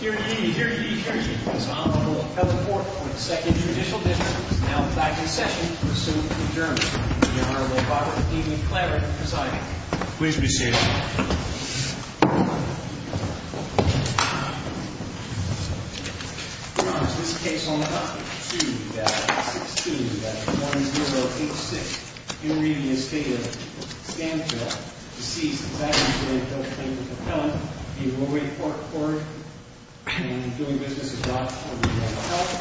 here to give you here to give you this honorable health report for the second judicial difference now back in session to assume adjournment. The Honorable Barbara E. McLaren presiding. Please be seated. Your Honor, this case on the topic, 2016-1086, in re Estate of Stanphill, deceased exactly the plaintiff's appellant, E. Roy Ford, and doing business with Rockwood Mental Health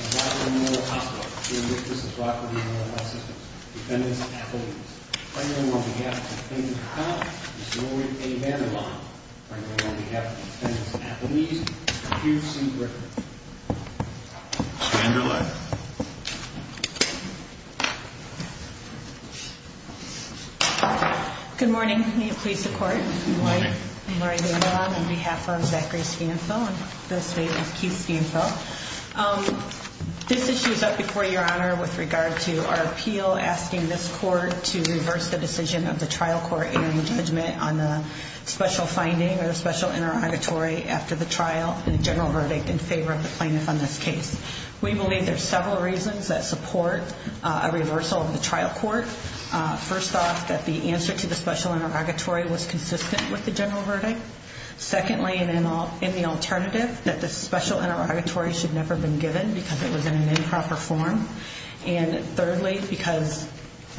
and Rockwood Mental Hospital, doing business with Rockwood Mental Health Systems, defendants and athletes. Presenting on behalf of the plaintiff's appellant, Ms. Roy A. Vandermond. Presenting on behalf of the defendants and athletes, Mr. Hugh C. Griffin. Stand your lawyer. Good morning. May it please the court. I'm Lori Vandermond on behalf of Zachary Stanphill and the Estate of Keith Stanphill. This issue is up before Your Honor with regard to our appeal asking this court to reverse the decision of the trial court in the judgment on the special finding or special interrogatory after the trial and general verdict in favor of the plaintiff on this case. We believe there's several reasons that support a reversal of the trial court. First off, that the answer to the special interrogatory was consistent with the general verdict. Secondly, and in the alternative, that the special interrogatory should never have been given because it was in an improper form. And thirdly, because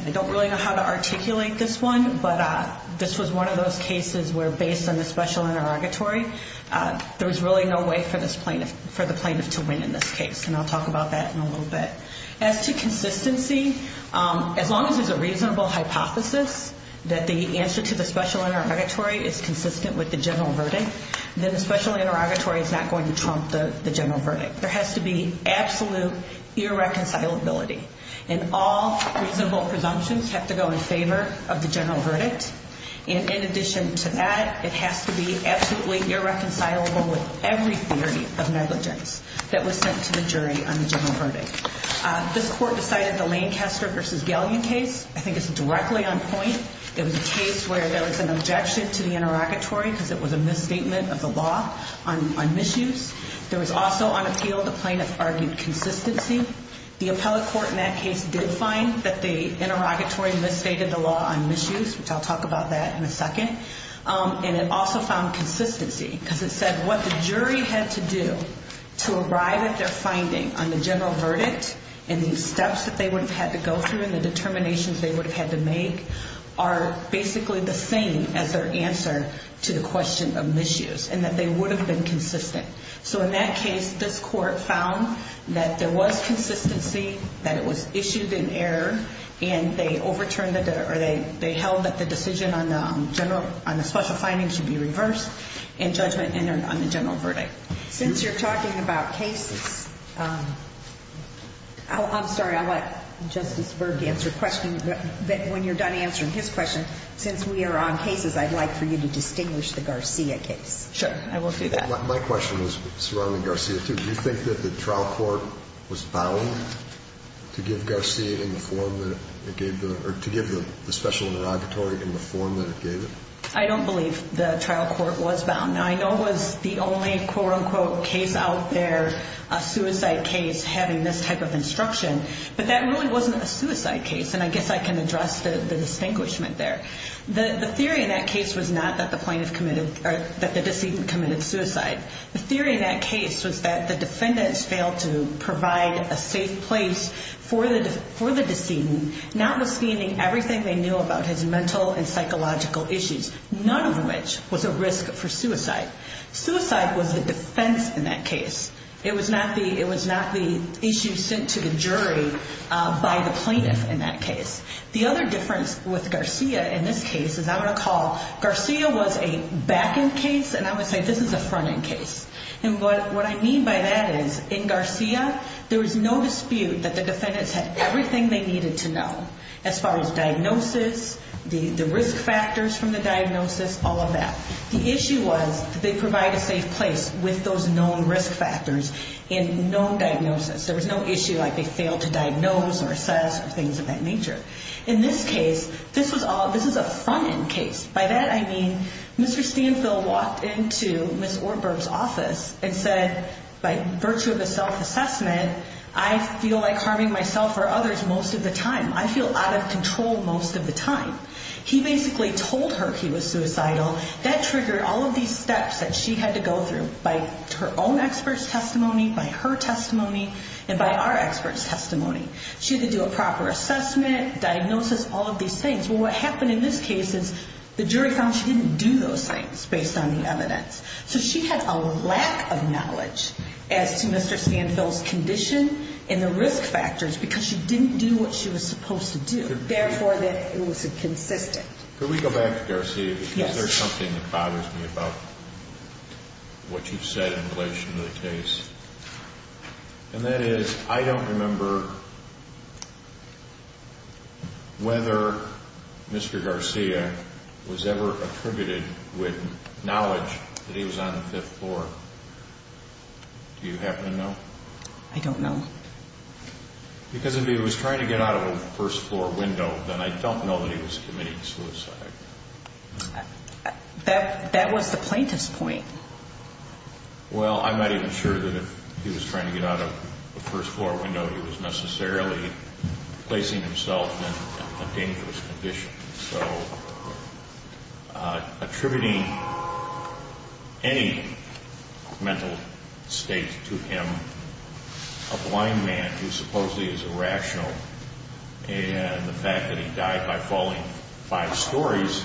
I don't really know how to articulate this one, but this was one of those cases where based on the special interrogatory, there was really no way for this plaintiff, for the plaintiff to win in this case. And I'll talk about that in a little bit. As to consistency, as long as there's a reasonable hypothesis that the answer to the special interrogatory is consistent with the general verdict, then the special interrogatory is not going to trump the general verdict. There has to be absolute irreconcilability and all reasonable presumptions have to go in favor of the general verdict. And in addition to that, it has to be absolutely irreconcilable with every theory of negligence that was sent to the jury on the general verdict. This court decided the Lancaster v. Galeon case, I think it's directly on point. It was a case where there was an objection to the interrogatory because it was a misstatement of the law on misuse. There was also on appeal, the plaintiff argued consistency. The appellate court in that case did find that the interrogatory misstated the law on misuse, which I'll talk about that in a second. And it also found consistency because it said what the jury had to do to arrive at their finding on the general verdict and the steps that they would have had to go through and the determinations they would have had to make are basically the same as their answer to the question of misuse and that they would have been consistent. So in that case, this court found that there was consistency, that it was issued in error, and they overturned it or they held that the decision on the special finding should be reversed in judgment and on the general verdict. Since you're talking about cases, I'm sorry, I'll let Justice Berg answer questions. When you're done answering his question, since we are on cases, I'd like for you to distinguish the Garcia case. Sure, I will do that. My question was surrounding Garcia too. Do you think that the trial court was bound to give the special interrogatory in the form that it gave it? I don't believe the trial court was bound. I know it was the only quote-unquote case out there, a suicide case, having this type of instruction, but that really wasn't a suicide case, and I guess I can address the distinguishment there. The theory in that case was not that the plaintiff committed or that the decedent committed suicide. The theory in that case was that the defendants failed to provide a safe place for the decedent, notwithstanding everything they knew about his mental and psychological issues, none of which was a risk for suicide. Suicide was a defense in that case. It was not the issue sent to the jury by the plaintiff in that case. The other difference with Garcia in this case is I'm going to call Garcia was a back-end case, and I would say this is a front-end case. And what I mean by that is, in Garcia, there was no dispute that the defendants had everything they needed to know as far as diagnosis, the risk factors from the diagnosis, all of that. The issue was that they provide a safe place with those known risk factors and known diagnosis. There was no issue like they failed to diagnose or assess or things of that nature. In this case, this was a front-end case. By that, I mean Mr. Stanfill walked into Ms. Orberg's office and said, by virtue of a self-assessment, I feel like harming myself or others most of the time. I feel out of control most of the time. He basically told her he was suicidal. That triggered all of these steps that she had to go through by her own expert's testimony, by her testimony, and by our expert's testimony. She had to do a proper assessment, diagnosis, all of these things. Well, what happened in this case is the jury found she didn't do those things based on the evidence. So she had a lack of knowledge as to Mr. Stanfill's condition and the risk factors because she didn't do what she was supposed to do. Therefore, it was inconsistent. Can we go back to Garcia? Yes. Is there something that bothers me about what you've said in relation to the case? And that is, I don't remember whether Mr. Garcia was ever attributed with knowledge that he was on the fifth floor. Do you happen to know? I don't know. Because if he was trying to get out of a first-floor window, then I don't know that he was committing suicide. That was the plaintiff's point. Well, I'm not even sure that if he was trying to get out of a first-floor window, he was necessarily placing himself in a dangerous condition. So, attributing any mental state to him, a blind man who supposedly is irrational, and the fact that he died by falling five stories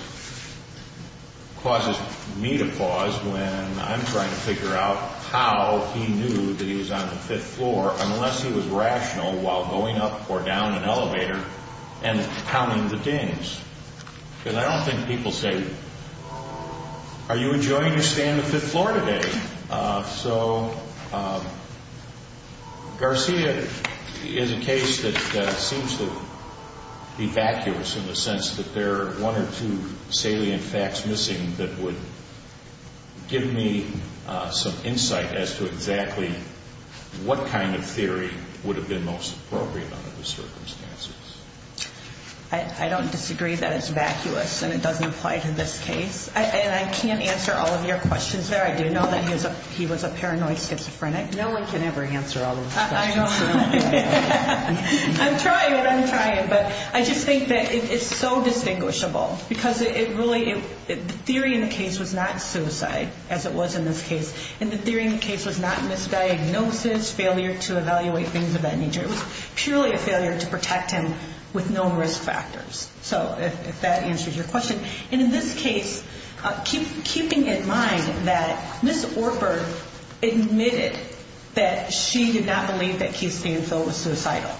causes me to pause when I'm trying to figure out how he knew that he was on the fifth floor unless he was rational while going up or down an elevator and counting the dings. Because I don't think people say, Are you enjoying your stay on the fifth floor today? So, Garcia is a case that seems to be vacuous in the sense that there are one or two salient facts missing that would give me some insight as to exactly what kind of theory would have been most appropriate under the circumstances. I don't disagree that it's vacuous and it doesn't apply to this case. And I can't answer all of your questions there. I do know that he was a paranoid schizophrenic. No one can ever answer all of those questions. I'm trying, but I just think that it's so distinguishable because the theory in the case was not suicide, as it was in this case. And the theory in the case was not misdiagnosis, failure to evaluate things of that nature. It was purely a failure to protect him with no risk factors. So, if that answers your question. And in this case, keeping in mind that Ms. Orford admitted that she did not believe that Keith Stanfield was suicidal.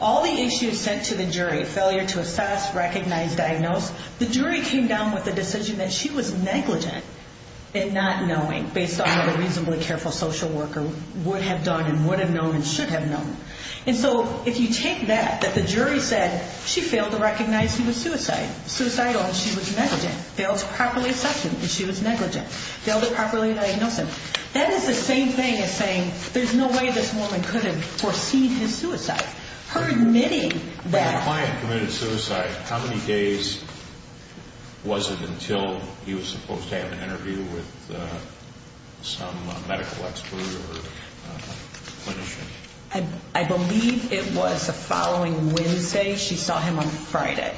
All the issues sent to the jury, failure to assess, recognize, diagnose, the jury came down with the decision that she was negligent in not knowing based on what a reasonably careful social worker would have done and would have known and should have known. And so, if you take that, that the jury said, she failed to recognize he was suicidal and she was negligent. Failed to properly assess him and she was negligent. Failed to properly diagnose him. That is the same thing as saying, there's no way this woman could have foreseen his suicide. Her admitting that. When the client committed suicide, how many days was it until he was supposed to have an interview with some medical expert or clinician? I believe it was the following Wednesday. She saw him on Friday.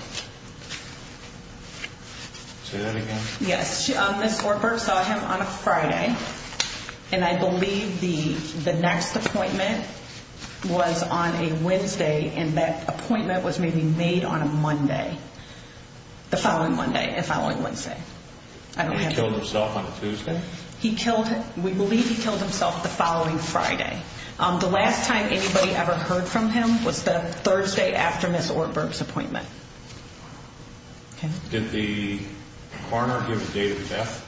Say that again? Yes, Ms. Orford saw him on a Friday. And I believe the next appointment was on a Wednesday and that appointment was maybe made on a Monday. The following Monday, the following Wednesday. And he killed himself on a Tuesday? He killed, we believe he killed himself the following Friday. The last time anybody ever heard from him was the Thursday after Ms. Orford's appointment. Did the partner give the date of death?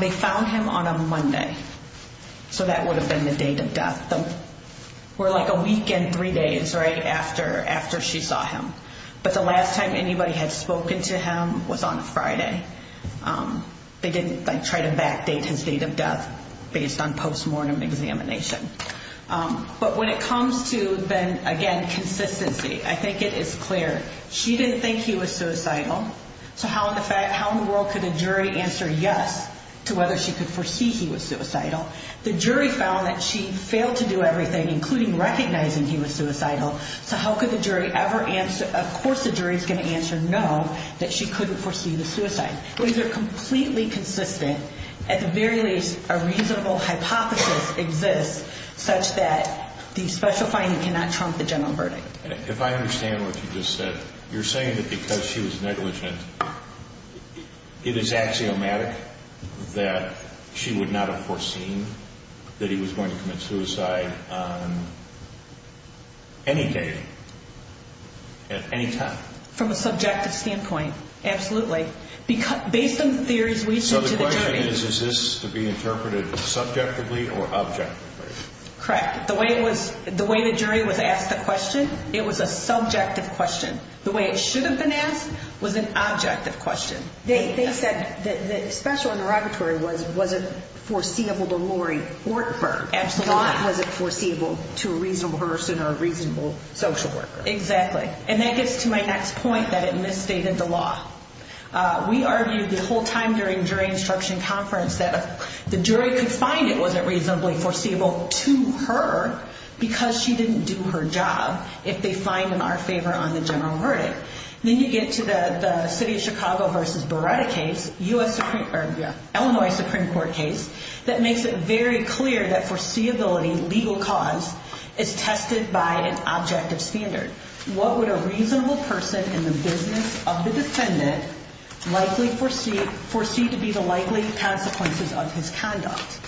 They found him on a Monday. So that would have been the date of death. Or like a week and three days, right, after she saw him. But the last time anybody had spoken to him was on a Friday. They didn't try to backdate his date of death based on post-mortem examination. But when it comes to, again, consistency, I think it is clear. She didn't think he was suicidal. So how in the world could a jury answer yes to whether she could foresee he was suicidal? The jury found that she failed to do everything, including recognizing he was suicidal. So how could the jury ever answer, of course the jury is going to answer no, that she couldn't foresee the suicide. These are completely consistent. At the very least, a reasonable hypothesis exists such that the special finding cannot trump the general verdict. If I understand what you just said, you're saying that because she was negligent, it is axiomatic that she would not have foreseen that he was going to commit suicide on any date at any time? From a subjective standpoint, absolutely. Based on the theories we've seen to the jury. So the question is, is this to be interpreted subjectively or objectively? Correct. The way the jury was asked the question, it was a subjective question. The way it shouldn't have been asked was an objective question. They said that the special interrogatory wasn't foreseeable to Lori Ortberg. Absolutely not. Why was it foreseeable to a reasonable person or a reasonable social worker? Exactly. And that gets to my next point that it misstated the law. We argued the whole time during jury instruction conference that the jury could find it wasn't reasonably foreseeable to her because she didn't do her job if they find in our favor on the general verdict. Then you get to the city of Chicago versus Beretta case, Illinois Supreme Court case, that makes it very clear that foreseeability, legal cause, is tested by an objective standard. What would a reasonable person in the business of the defendant likely foresee to be the likely consequences of his conduct?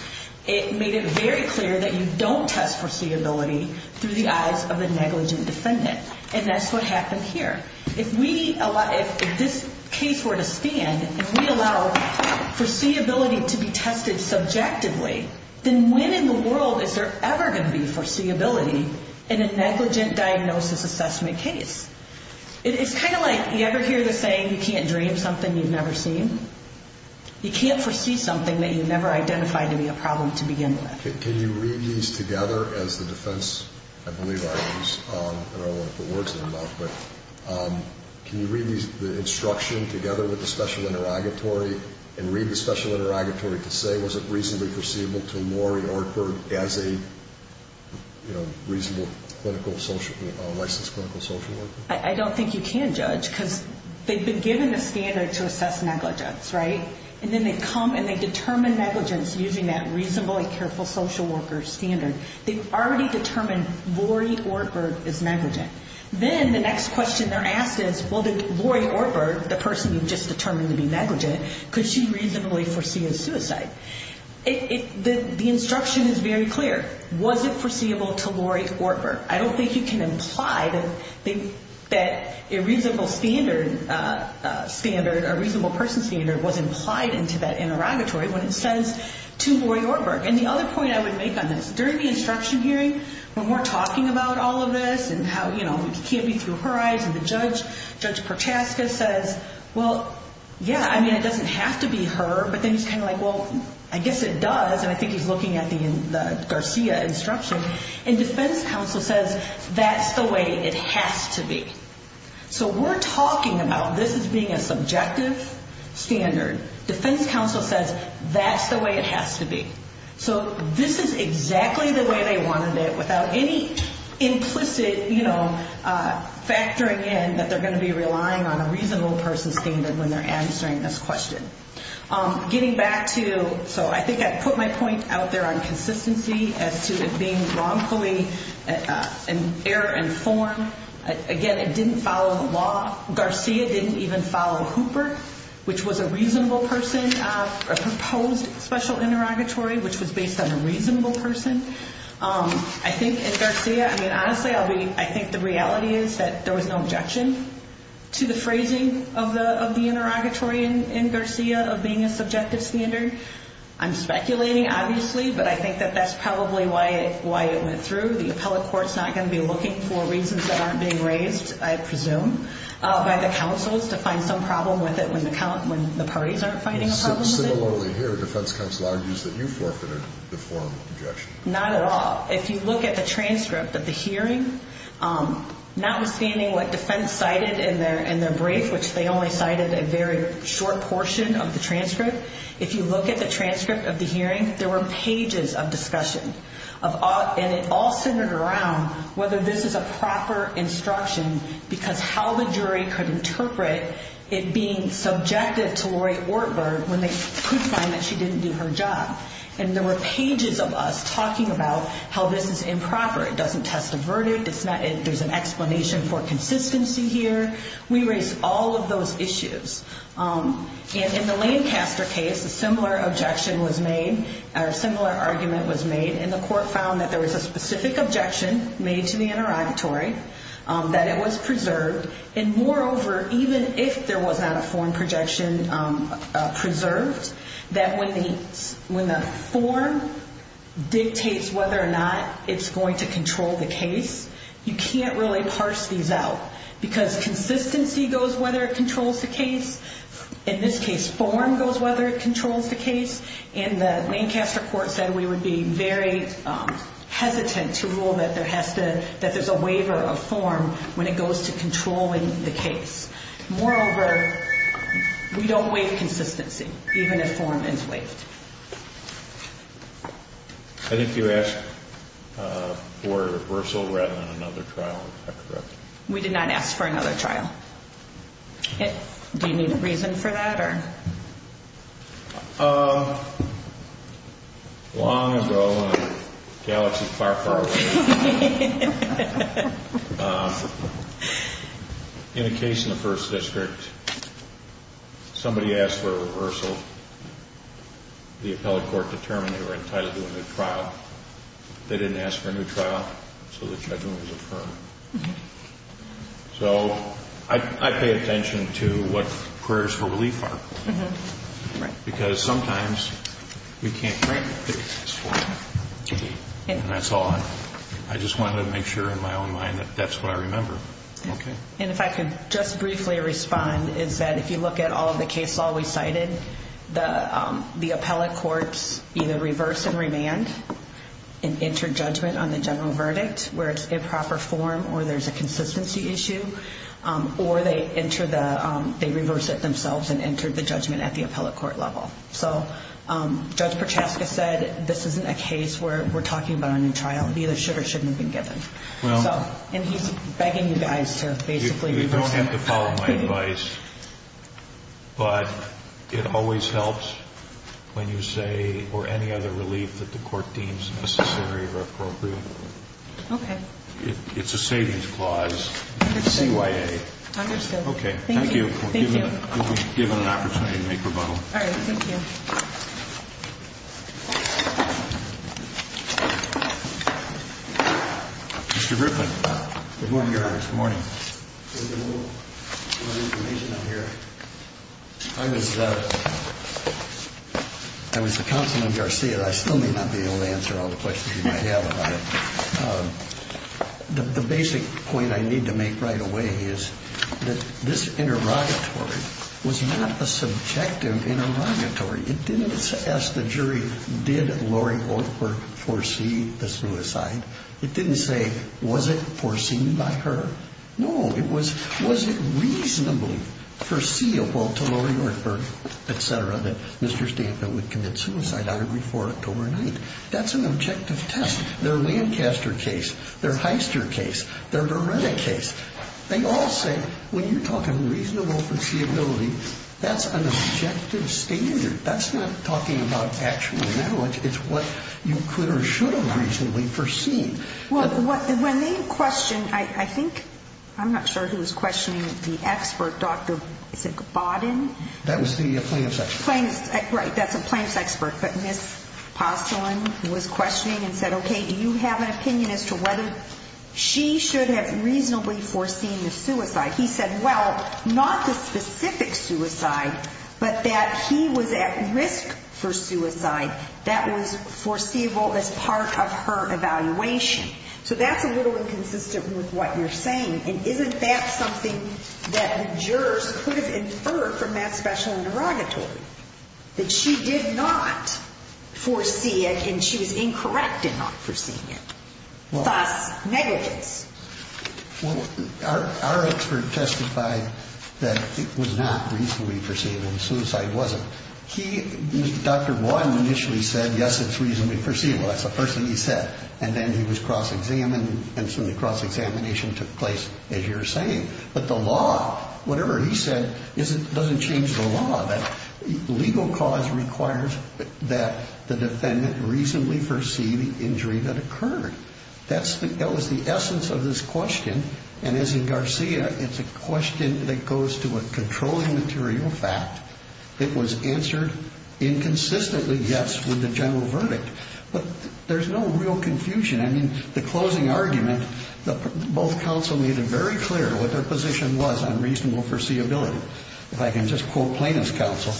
It made it very clear that you don't test foreseeability through the eyes of a negligent defendant. And that's what happened here. If this case were to stand and we allow foreseeability to be tested subjectively, then when in the world is there ever going to be foreseeability in a negligent diagnosis assessment case? It's kind of like, you ever hear the saying, you can't dream something you've never seen? You can't foresee something that you never identified to be a problem to begin with. Can you read these together as the defense? I believe I use, I don't want to put words in your mouth, but can you read the instruction together with the special interrogatory and read the special interrogatory to say was it reasonably foreseeable to Lori Ortberg as a reasonable licensed clinical social worker? I don't think you can, Judge, because they've been given the standard to assess negligence, right? And then they come and they determine negligence using that reasonably careful social worker standard. They've already determined Lori Ortberg is negligent. Then the next question they're asked is, well, did Lori Ortberg, the person you've just determined to be negligent, could she reasonably foresee a suicide? The instruction is very clear. Was it foreseeable to Lori Ortberg? I don't think you can imply that a reasonable standard, a reasonable person standard was implied into that interrogatory when it says to Lori Ortberg. And the other point I would make on this, during the instruction hearing when we're talking about all of this and how, you know, it can't be through her eyes, and the judge, Judge Prochaska, says, well, yeah, I mean, it doesn't have to be her, but then he's kind of like, well, I guess it does. And I think he's looking at the Garcia instruction. And defense counsel says that's the way it has to be. So we're talking about this as being a subjective standard. Defense counsel says that's the way it has to be. So this is exactly the way they wanted it without any implicit, you know, factoring in that they're going to be relying on a reasonable person standard when they're answering this question. Getting back to, so I think I put my point out there on consistency as to it being wrongfully error informed. Again, it didn't follow the law. Garcia didn't even follow Hooper, which was a reasonable person, a proposed special interrogatory, which was based on a reasonable person. I think in Garcia, I mean, honestly, I think the reality is that there was no objection to the phrasing of the interrogatory in Garcia of being a subjective standard. I'm speculating, obviously, but I think that that's probably why it went through. The appellate court's not going to be looking for reasons that aren't being raised, I presume, by the counsels to find some problem with it when the parties aren't finding a problem with it. Similarly here, defense counsel argues that you forfeited the formal objection. Not at all. If you look at the transcript of the hearing, notwithstanding what defense cited in their brief, which they only cited a very short portion of the transcript, if you look at the transcript of the hearing, there were pages of discussion, and it all centered around whether this is a proper instruction because how the jury could interpret it being subjective to Lori Ortberg when they could find that she didn't do her job. And there were pages of us talking about how this is improper. It doesn't test a verdict. There's an explanation for consistency here. We raised all of those issues. And in the Lancaster case, a similar objection was made, or a similar argument was made, and the court found that there was a specific objection made to the interrogatory that it was preserved. And moreover, even if there was not a form projection preserved, that when the form dictates whether or not it's going to control the case, you can't really parse these out because consistency goes whether it controls the case. In this case, form goes whether it controls the case. And the Lancaster court said we would be very hesitant to rule that there's a waiver of form when it goes to controlling the case. Moreover, we don't waive consistency, even if form is waived. I think you asked for a reversal rather than another trial. Is that correct? We did not ask for another trial. Do you need a reason for that? Long ago in a galaxy far, far away, in a case in the First District, somebody asked for a reversal. The appellate court determined they were entitled to a new trial. They didn't ask for a new trial, so the judgment was affirmed. So I pay attention to what careers for relief are. Because sometimes we can't break the fixed form. And that's all. I just wanted to make sure in my own mind that that's what I remember. And if I could just briefly respond, is that if you look at all the cases we cited, the appellate courts either reverse and remand and enter judgment on the general verdict where it's improper form or there's a consistency issue or they reverse it themselves and enter the judgment at the appellate court level. So Judge Prochaska said this isn't a case where we're talking about a new trial. Either should or shouldn't have been given. And he's begging you guys to basically reverse it. You don't have to follow my advice. But it always helps when you say or any other relief that the court deems necessary or appropriate. Okay. It's a savings clause. CYA. Understood. Okay. Thank you. Thank you. We'll be given an opportunity to make rebuttal. All right. Thank you. Mr. Griffin. Good morning, Your Honor. Good morning. There's a little information out here. I was the counsel in Garcia. I still may not be able to answer all the questions you might have about it. The basic point I need to make right away is that this interrogatory was not a subjective interrogatory. It didn't ask the jury, did Lori Hortford foresee the suicide? It didn't say, was it foreseen by her? No. It was, was it reasonably foreseeable to Lori Hortford, et cetera, that Mr. Stamford would commit suicide on or before October 9th? That's an objective test. Their Lancaster case, their Heister case, their Beretta case, they all say, when you're talking reasonable foreseeability, that's an objective standard. That's not talking about actual knowledge. It's what you could or should have reasonably foreseen. Well, when they questioned, I think, I'm not sure who was questioning the expert, Dr. Baudin? That was the plaintiff's expert. Right. That's the plaintiff's expert. But Ms. Postolan was questioning and said, okay, do you have an opinion as to whether she should have reasonably foreseen the suicide? He said, well, not the specific suicide, but that he was at risk for suicide that was foreseeable as part of her evaluation. So that's a little inconsistent with what you're saying. And isn't that something that the jurors could have inferred from that special interrogatory? That she did not foresee it and she was incorrect in not foreseeing it. Thus, negligence. Well, our expert testified that it was not reasonably foreseeable. Suicide wasn't. Dr. Baudin initially said, yes, it's reasonably foreseeable. That's the first thing he said. And then he was cross-examined and so the cross-examination took place as you're saying. But the law, whatever he said, doesn't change the law. The legal cause requires that the defendant reasonably foresee the injury that occurred. That was the essence of this question. And as in Garcia, it's a question that goes to a controlling material fact. It was answered inconsistently, yes, with the general verdict. But there's no real confusion. I mean, the closing argument, both counsel made it very clear what their position was on reasonable foreseeability. If I can just quote plaintiff's counsel,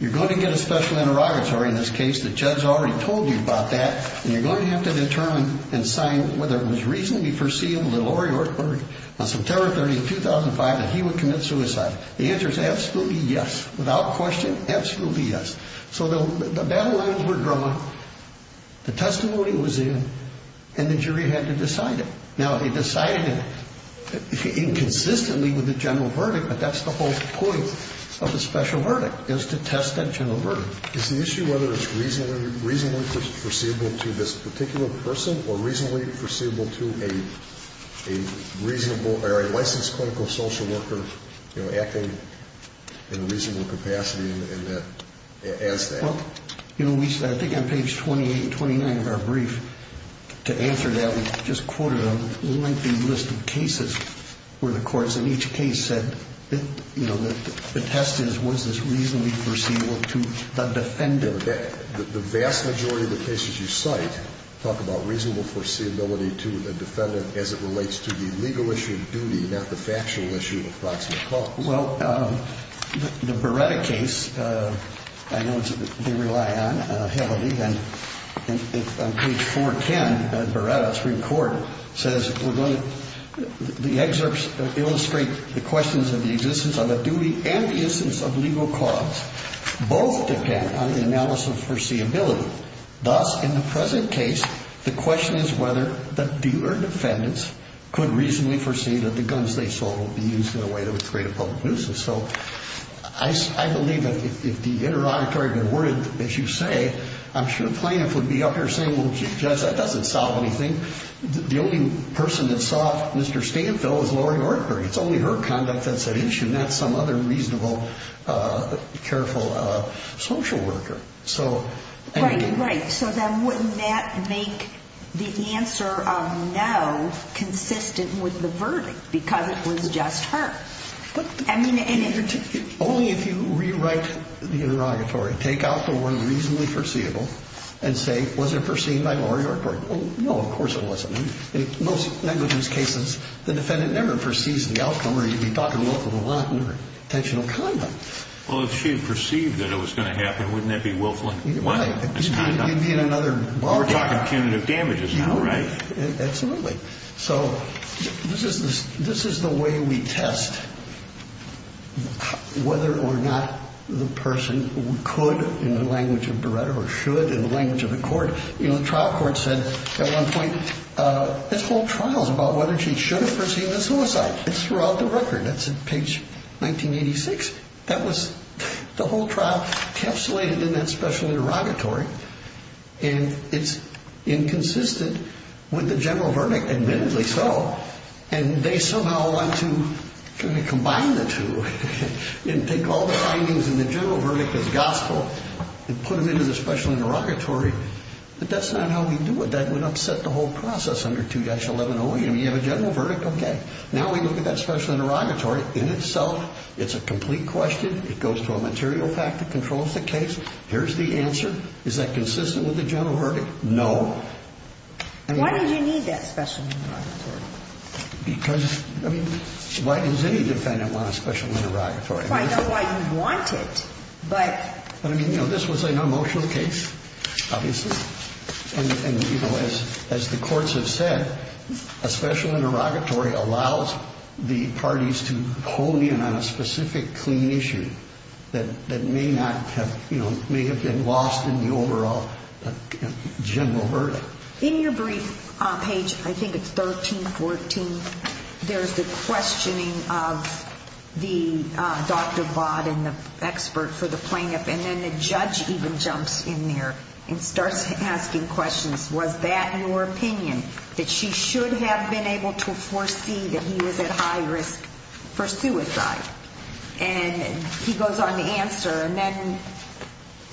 you're going to get a special interrogatory in this case. The judge already told you about that. And you're going to have to determine and sign whether it was reasonably foreseeable to Lori Orr on September 30, 2005 that he would commit suicide. The answer is absolutely yes. Without question, absolutely yes. So the battle lines were drawn. The testimony was in. And the jury had to decide it. Now they decided it inconsistently with the general verdict, but that's the whole point of the special verdict is to test that general verdict. Is the issue whether it's reasonably foreseeable to this particular person or reasonably foreseeable to a licensed clinical social worker acting in a reasonable capacity as that? Well, you know, I think on page 28 and 29 of our brief, to answer that, we just quoted a lengthy list of cases where the courts in each case said you know, the test is was this reasonably foreseeable to the defendant? The vast majority of the cases you cite talk about reasonable foreseeability to the defendant as it relates to the legal issue of duty not the factual issue of proximate cause. Well, the Beretta case, I know they rely on Haley, and on page 410 of the Beretta Supreme Court says we're going to the excerpts illustrate the questions of the existence of a duty and the instance of legal cause both depend on the analysis of foreseeability. Thus, in the present case, the question is whether the defendants could reasonably foresee that the guns they sold would be used in a way that would create a public nuisance. So, I believe that if the interrogator had been worried, as you say, I'm sure the plaintiff would be up here saying, well, Judge, that doesn't solve anything. The only person that saw Mr. Stanfill was Lori Ortberg. It's only her conduct that's at issue, not some other reasonable, careful social worker. Right, right. So then wouldn't that make the answer of no consistent with the verdict because it was just her? Only if you rewrite the interrogatory, take out the one reasonably foreseeable and say, was it foreseen by Lori Ortberg? No, of course it wasn't. In most negligence cases, the defendant never foresees the outcome or you'd be talking Wilk of the Lawton or intentional conduct. Well, if she had perceived that it was going to happen, wouldn't that be Wilk of the Lawton? Right. You'd be in another bar. We're talking punitive damages now, right? Absolutely. So, this is the way we test whether or not the person could, in the language of Beretta, or should, in the language of the court. You know, the trial court said at one point, this whole trial is about whether she should have perceived the suicide. It's throughout the record. It's page 1986. That was the whole trial encapsulated in that special interrogatory. And it's inconsistent with the general verdict, admittedly so. And they somehow want to kind of combine the two and take all the findings in the general verdict as gospel and put them into the special interrogatory. But that's not how we do it. That would upset the whole process under 2-1108. I mean, you have a general verdict, okay. Now we look at that special interrogatory. In itself, it's a complete question. It goes to a material fact that controls the case. Here's the answer. Is that consistent with the general verdict? No. Why did you need that special interrogatory? Because, I mean, why does any defendant want a special interrogatory? I know why you want it, but... But, I mean, you know, this was an emotional case, obviously. And, you know, as the courts have said, a special interrogatory allows the parties to hone in on a specific clinician that may not have, you know, may have been lost in the overall general verdict. In your brief page, I think it's 13-14, there's the questioning of the Dr. Vaught and the expert for the plaintiff. And then the judge even jumps in there and starts asking questions. Was that your opinion? That she should have been able to foresee that he was at high risk for suicide? And he goes on to answer and then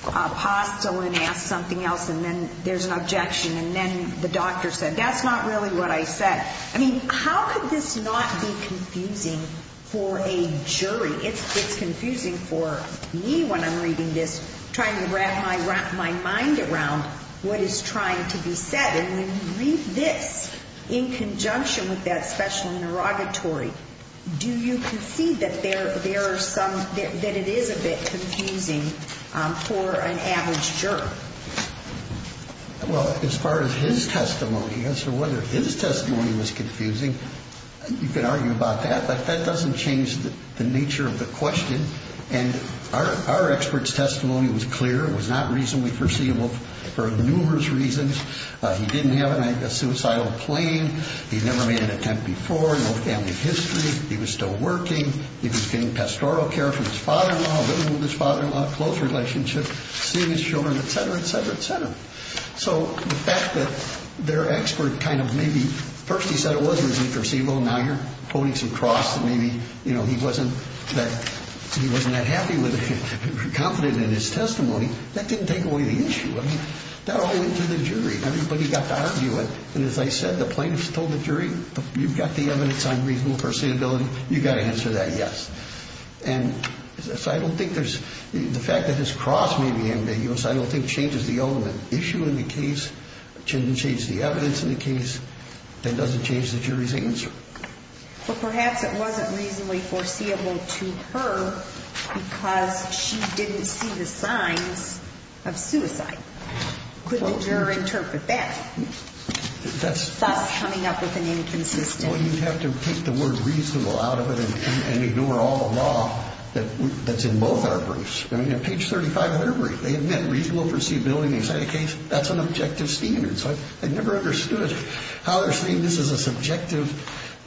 hostile and asks something else and then there's an objection and then the doctor said, that's not really what I said. I mean, how could this not be confusing for a jury? It's confusing for me when I'm reading this trying to wrap my mind around what is trying to be said and when you read this in conjunction with that special interrogatory, do you concede that there are some that it is a bit confusing for an average juror? Well, as far as his testimony, as for whether his testimony was confusing, you could argue about that but that doesn't change the nature of the question and our expert's testimony was clear, it was not reasonably foreseeable for numerous reasons. He didn't have a suicidal plane, he'd never made an attempt before, no family history, he was still working, he was getting pastoral care from his father-in-law, living with his father-in-law, a close relationship, seeing his children, etc., etc., etc. So the fact that their expert kind of maybe first he said it wasn't really foreseeable now you're quoting some cross maybe he wasn't that happy with it confident in his testimony that didn't take away the issue that all went to the jury everybody got to argue it and as I said the plaintiff told the jury you've got the evidence on reasonable foreseeability you've got to answer that yes and so I don't think there's the fact that his cross may be ambiguous I don't think changes the element issue in the case, doesn't change the evidence in the case that doesn't change the jury's answer but perhaps it wasn't reasonably foreseeable to her because she didn't see the signs of suicide could the juror interpret that thus coming up with an inconsistent... well you'd have to take the word reasonable out of it and ignore all the law that's in both our briefs I mean on page 35 of their brief they admit reasonable foreseeability that's an objective standard I never understood how they're saying this is a subjective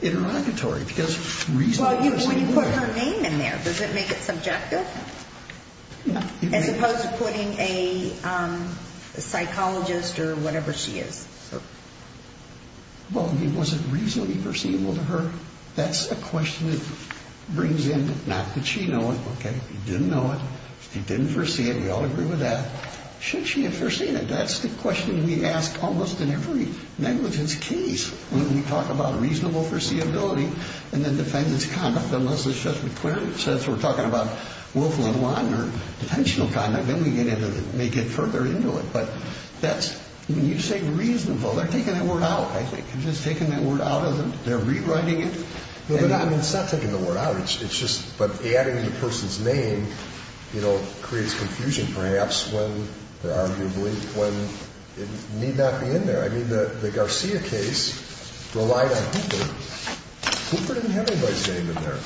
interrogatory well you put her name in there does it make it subjective? as opposed to putting a psychologist or whatever she is well was it reasonably foreseeable to her that's a question that brings in not that she know it he didn't know it, he didn't foresee it we all agree with that should she have foreseen it that's the question we ask almost in every negligence case when we talk about reasonable foreseeability and the defendant's conduct unless the judge says we're talking about Wolf and Wadner, detentional conduct then we may get further into it but when you say reasonable they're taking that word out they're rewriting it it's not taking the word out but adding the person's name creates confusion perhaps when it need not be in there the Garcia case relied on Hooper Hooper didn't have anybody's name in there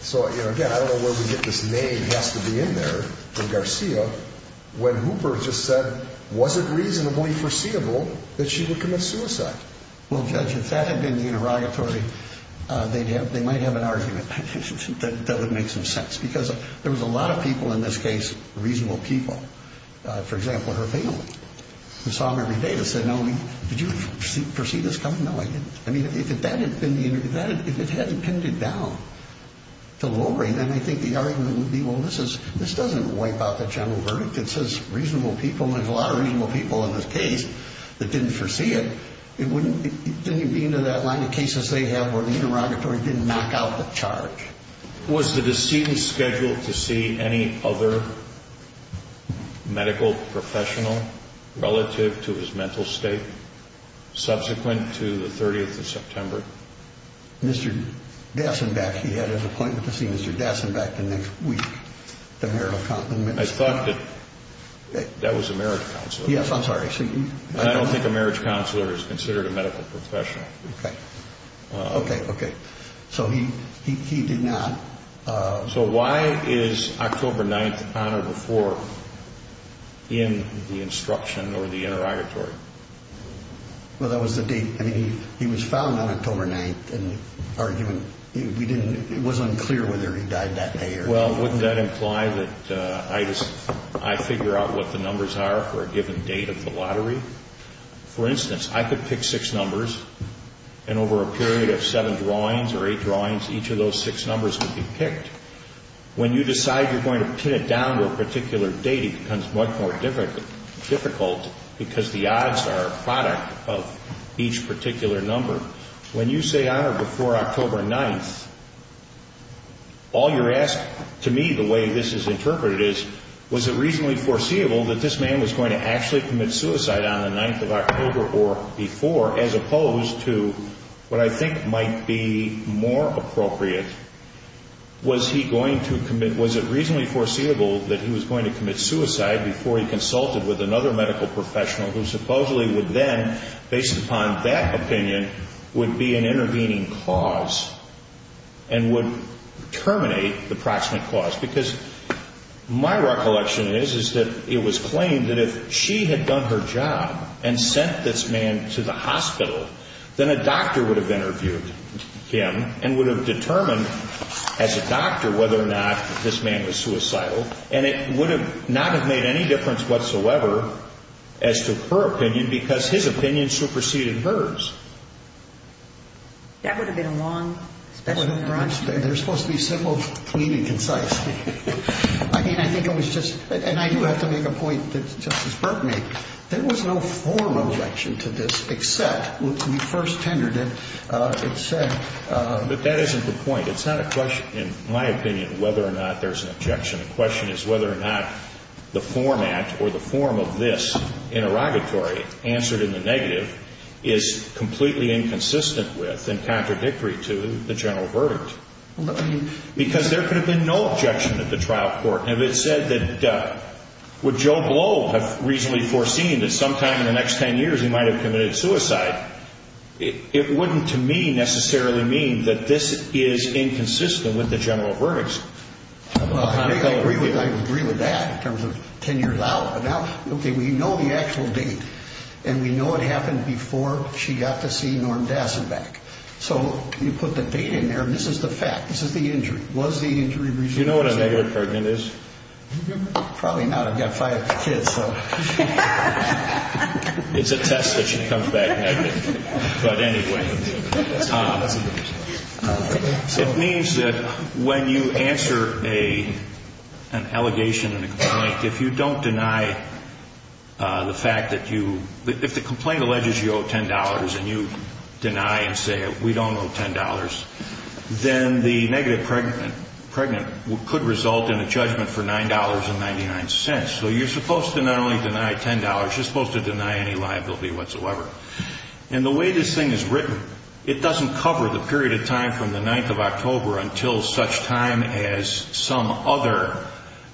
so again I don't know where we get this name has to be in there when Hooper just said was it reasonably foreseeable that she would commit suicide well judge if that had been the interrogatory they might have an argument that would make some sense because there was a lot of people in this case reasonable people for example her family who saw Mary Davis and said did you foresee this coming? if it hadn't been pinned down to Lori then I think the argument would be this doesn't wipe out the general verdict it says reasonable people and there's a lot of reasonable people in this case that didn't foresee it then you'd be into that line of cases where the interrogatory didn't knock out the charge was the decedent scheduled to see any other medical professional relative to his mental state subsequent to the 30th of September Mr. Dasenbeck he had an appointment to see Mr. Dasenbeck the next week I thought that was a marriage counselor yes I'm sorry I don't think a marriage counselor is considered a medical professional okay okay so he did not so why is October 9th honored before in the instruction or the interrogatory well that was the date I mean he was found on October 9th and argument it was unclear whether he died that day well wouldn't that imply that I figure out what the numbers are for a given date of the lottery for instance I could pick 6 numbers and over a period of 7 drawings or 8 drawings each of those 6 numbers would be picked when you decide you're going to pin it down to a particular date it becomes much more difficult because the odds are a product of each particular number when you say honored before October 9th all you're asking to me the way this is interpreted is was it reasonably foreseeable that this man was going to actually commit suicide on the 9th of October or before as opposed to what I think might be more appropriate was he going to commit was it reasonably foreseeable that he was going to commit suicide before he consulted with another medical professional who supposedly would then based upon that opinion would be an intervening cause and would terminate the proximate cause because my recollection is is that it was claimed that if she had done her job and sent this man to the hospital then a doctor would have interviewed him and would have determined as a doctor whether or not this man was suicidal and it would have not have made any difference whatsoever as to her opinion because his opinion superseded hers that would have been a long special introduction they're supposed to be simple, clean and concise I mean I think it was just and I do have to make a point that Justice Burke made there was no formal objection to this except when we first tendered it it said but that isn't the point it's not a question in my opinion whether or not there's an objection the question is whether or not the format or the form of this interrogatory answered in the negative is completely inconsistent with and contradictory to the general verdict because there could have been no objection at the trial court and if it said that would Joe Blow have reasonably foreseen that sometime in the next 10 years he might have committed suicide it wouldn't to me necessarily mean that this is inconsistent with the general verdict I agree with that in terms of 10 years out but now we know the actual date and we know what happened before she got to see so you put the date in there and this is the fact this is the injury you know what a negative verdict is? probably not I've got 5 kids so it's a test that she comes back negative but anyway it means that when you answer an allegation and a complaint if you don't deny the fact that you if the complaint alleges you owe $10 and you deny and say we don't owe $10 then the negative could result in a judgment for $9.99 so you're supposed to not only deny $10 you're supposed to deny any liability whatsoever and the way this thing is written it doesn't cover the period of time from the 9th of October until such time as some other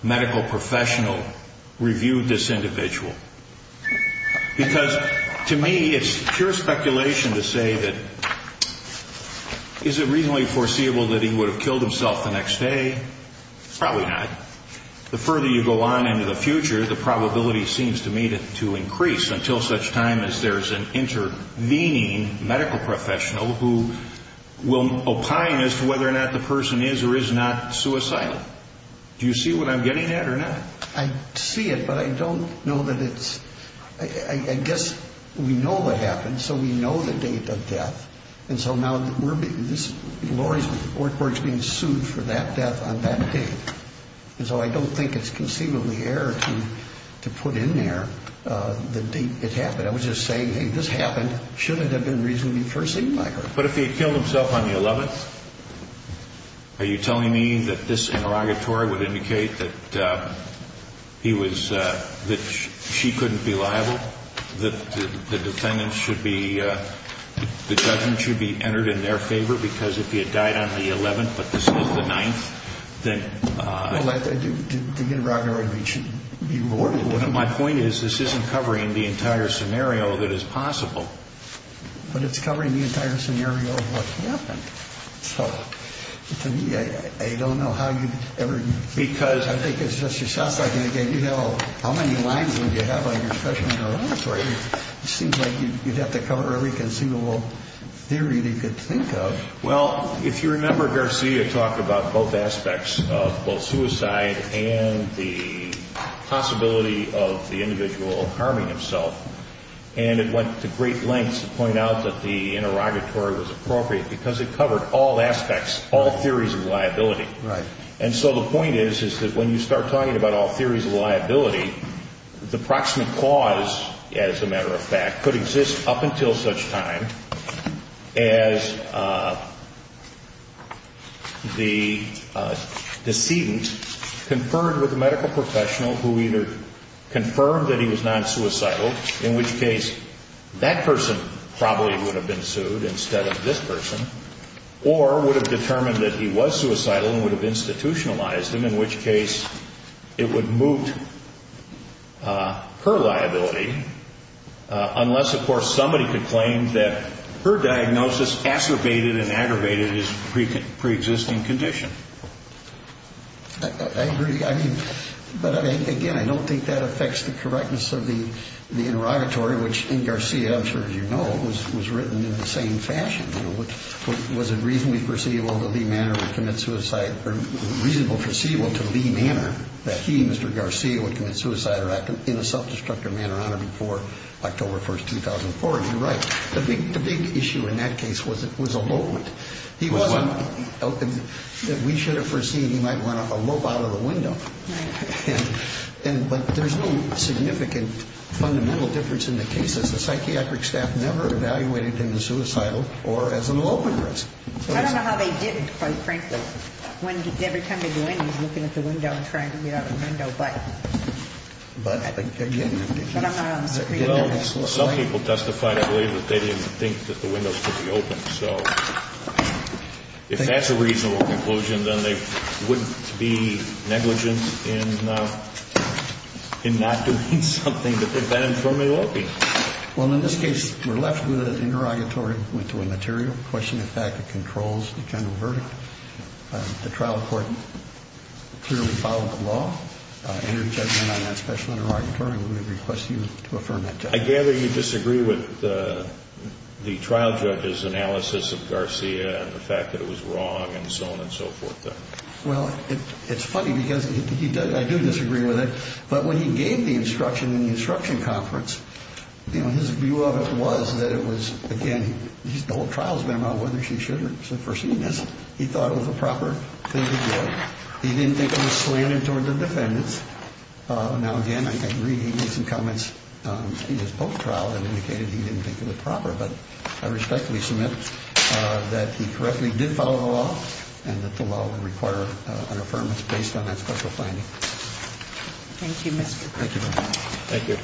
medical professional reviewed this individual because to me it's pure speculation to say that is it reasonably foreseeable that he would have killed himself the next day probably not the further you go on into the future the probability seems to me to increase until such time as there's an intervening medical professional who will opine as to whether or not the person is or is not suicidal do you see what I'm getting at or not? I see it but I don't know that it's I guess we know what happened so we know the date of death and so now we're being the court's being sued for that death on that date and so I don't think it's conceivably error to put in there the date it happened I was just saying hey this happened shouldn't have been reasonably foreseen by her but if he killed himself on the 11th are you telling me that this interrogatory would indicate that he was she couldn't be liable the defendant should be the judge should be entered in their favor because if he had died on the 11th but this was the 9th then the interrogatory should be rewarded my point is this isn't covering the entire scenario that is possible but it's covering the entire scenario of what happened so to me I don't know how you ever because I think it's just you know how many lines would you have on your special interrogatory it seems like you'd have to cover every conceivable theory that you could think of well if you remember Garcia talked about both aspects of both suicide and the possibility of the individual harming himself and it went to great lengths to point out that the interrogatory was appropriate because it covered all aspects all theories of liability and so the point is that when you start talking about all theories of liability the proximate cause as a matter of fact could exist up until such time as the decedent conferred with a medical professional who either confirmed that he was non-suicidal in which case that person probably would have been sued instead of this person or would have determined that he was suicidal and would have institutionalized him in which case it would moot her liability unless of course somebody could claim that her diagnosis acerbated and aggravated his pre-existing condition I agree I mean but again I don't think that affects the correctness of the interrogatory which in Garcia I'm sure you know was written in the same fashion was it reasonably foreseeable that Lee Manor would commit suicide or reasonable foreseeable to Lee Manor that he Mr. Garcia would commit suicide or act in a self-destructive manner on him before October 1st, 2004 and you're right the big issue in that case was elopement he wasn't we should have foreseen he might run a rope out of the window but there's no significant fundamental difference in the cases the psychiatric staff never evaluated him as suicidal or as an elopement risk I don't know how they did it quite frankly when every time they do it he's looking at the window and trying to get out of the window but but again some people testified I believe that they didn't think that the windows could be open so if that's a reasonable conclusion then they wouldn't be negligent in in not doing something that they've been informed it will be well in this case we're left with an interrogatory material questioning the fact it controls the general verdict the trial court clearly followed the law and your judgment on that special interrogatory we request you to affirm that judgment I gather you disagree with the trial judge's analysis of Garcia and the fact that it was wrong and so on and so forth well it's funny because I do disagree with it but when he gave the instruction in the instruction conference his view of it was that it was again the whole trial's been about whether she should have foreseen this he thought it was a proper thing to do he didn't think it was slandering toward the defendants now again I agree he made some comments in his post trial that indicated he didn't think it was proper but I respectfully submit that he correctly did follow the law and that the law would require an affirmation based on that special finding Thank you Mr. Thank you.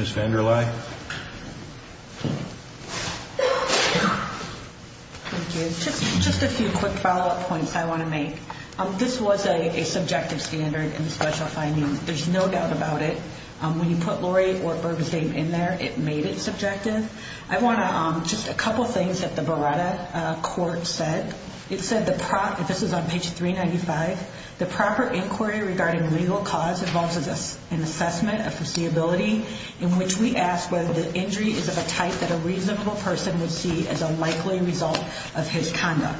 Ms. VanderLie Thank you. Just a few quick follow up points I want to make This was a subjective standard in the special finding. There's no doubt about it. When you put Lori or Bergesdame in there it made it subjective I want to just a couple things that the Beretta court said It said this is on page 395 The proper inquiry regarding legal cause involves an assessment of foreseeability in which we ask whether the injury is of a type that a reasonable person would see as a likely result of his conduct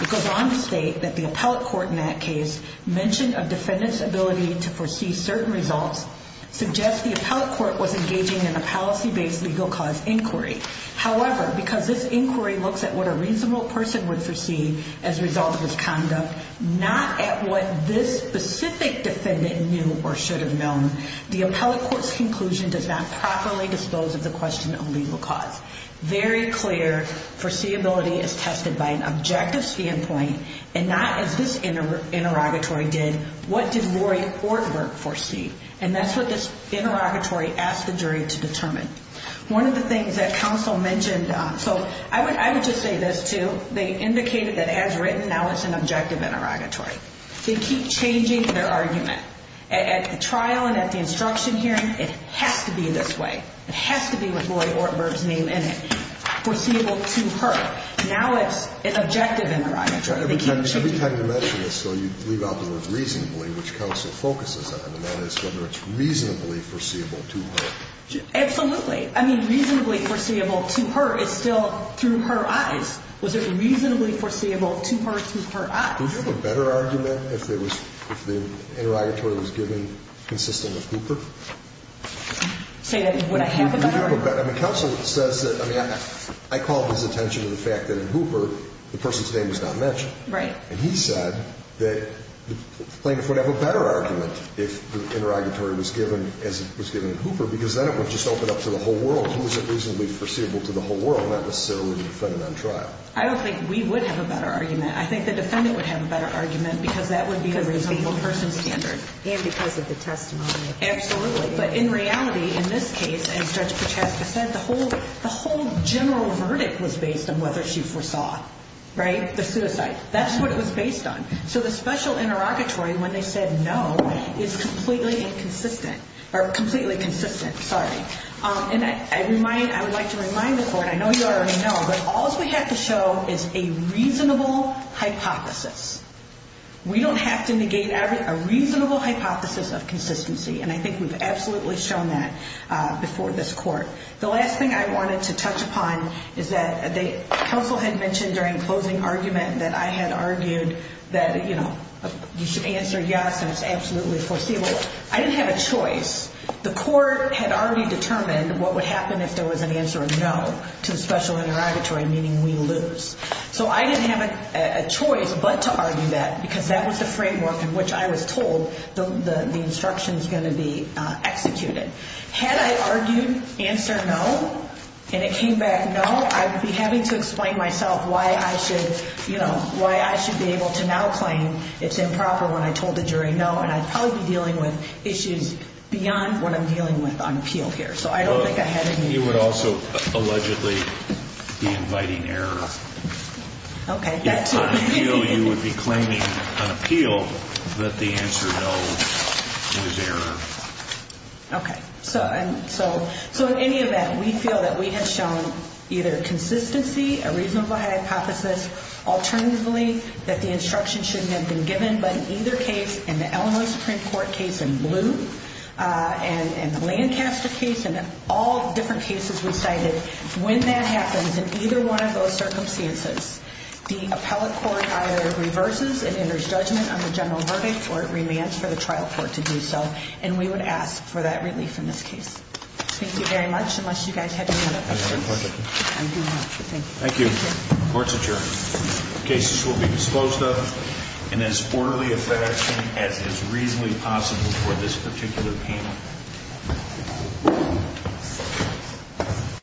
It goes on to state that the appellate court in that case mentioned a defendant's ability to foresee certain results suggests the appellate court was engaging in a policy based legal cause inquiry However, because this inquiry looks at what a reasonable person would foresee as a result of his conduct not at what this specific defendant knew or should have known the appellate court's conclusion does not properly dispose of the question of legal cause. Very clear foreseeability is tested by an objective standpoint and not as this interrogatory did. What did Lori or Burke foresee? And that's what this is determined. One of the things that counsel mentioned, so I would just say this too, they indicated that as written, now it's an objective interrogatory. They keep changing their argument. At the trial and at the instruction hearing, it has to be this way. It has to be with Lori or Burke's name in it foreseeable to her. Now it's an objective interrogatory Every time you mention this though, you leave out the word reasonably, which counsel focuses on, and that is whether it's reasonably foreseeable to her. Absolutely I mean, reasonably foreseeable to her is still through her eyes Was it reasonably foreseeable to her through her eyes? Would you have a better argument if it was, if the interrogatory was given consistent with Hooper? Say that would I have a better argument? Counsel says that, I mean, I called his attention to the fact that in Hooper the person's name was not mentioned. Right. And he said that plaintiff would have a better argument if the interrogatory was given as it was given in Hooper, because then it would just open up to the whole world. Who is it reasonably foreseeable to the whole world? Not necessarily the defendant on trial. I don't think we would have a better argument. I think the defendant would have a better argument because that would be a reasonable person standard. And because of the testimony Absolutely, but in reality in this case, as Judge Prochaska said, the whole general verdict was based on whether she foresaw Right? The suicide. That's what it was based on. So the special interrogatory when they said no is completely inconsistent or completely consistent. Sorry. And I would like to remind the court, I know you already know, but all we have to show is a reasonable hypothesis. We don't have to negate a reasonable hypothesis of consistency and I think we've absolutely shown that before this court. The last thing I wanted to touch upon is that counsel had mentioned during closing argument that I had you should answer yes and it's absolutely foreseeable. I didn't have a choice. The court had already determined what would happen if there was an answer of no to the special interrogatory, meaning we lose. So I didn't have a choice but to argue that because that was the framework in which I was told the instruction is going to be executed. Had I argued answer no and it came back no I would be having to explain myself why I should, you know, why I should be able to now claim it's improper when I told the jury no and I'd probably be dealing with issues beyond what I'm dealing with on appeal here. So I don't think I had any... You would also allegedly be inviting error. Okay. If on appeal you would be claiming on appeal that the answer no is error. Okay. So in any event, we feel that we have shown either consistency, a reasonable hypothesis alternatively that the instruction shouldn't have been given, but in either case in the Illinois Supreme Court case in blue and the Lancaster case and all different cases we cited, when that happens in either one of those circumstances the appellate court either reverses and enters judgment on the general verdict or it remands for the trial court to do so. And we would ask for that relief in this case. Thank you very much. Unless you guys have any other questions. Any other questions? Thank you. Court's adjourned. Cases will be disclosed of in as orderly a fashion as is reasonably possible for this particular panel.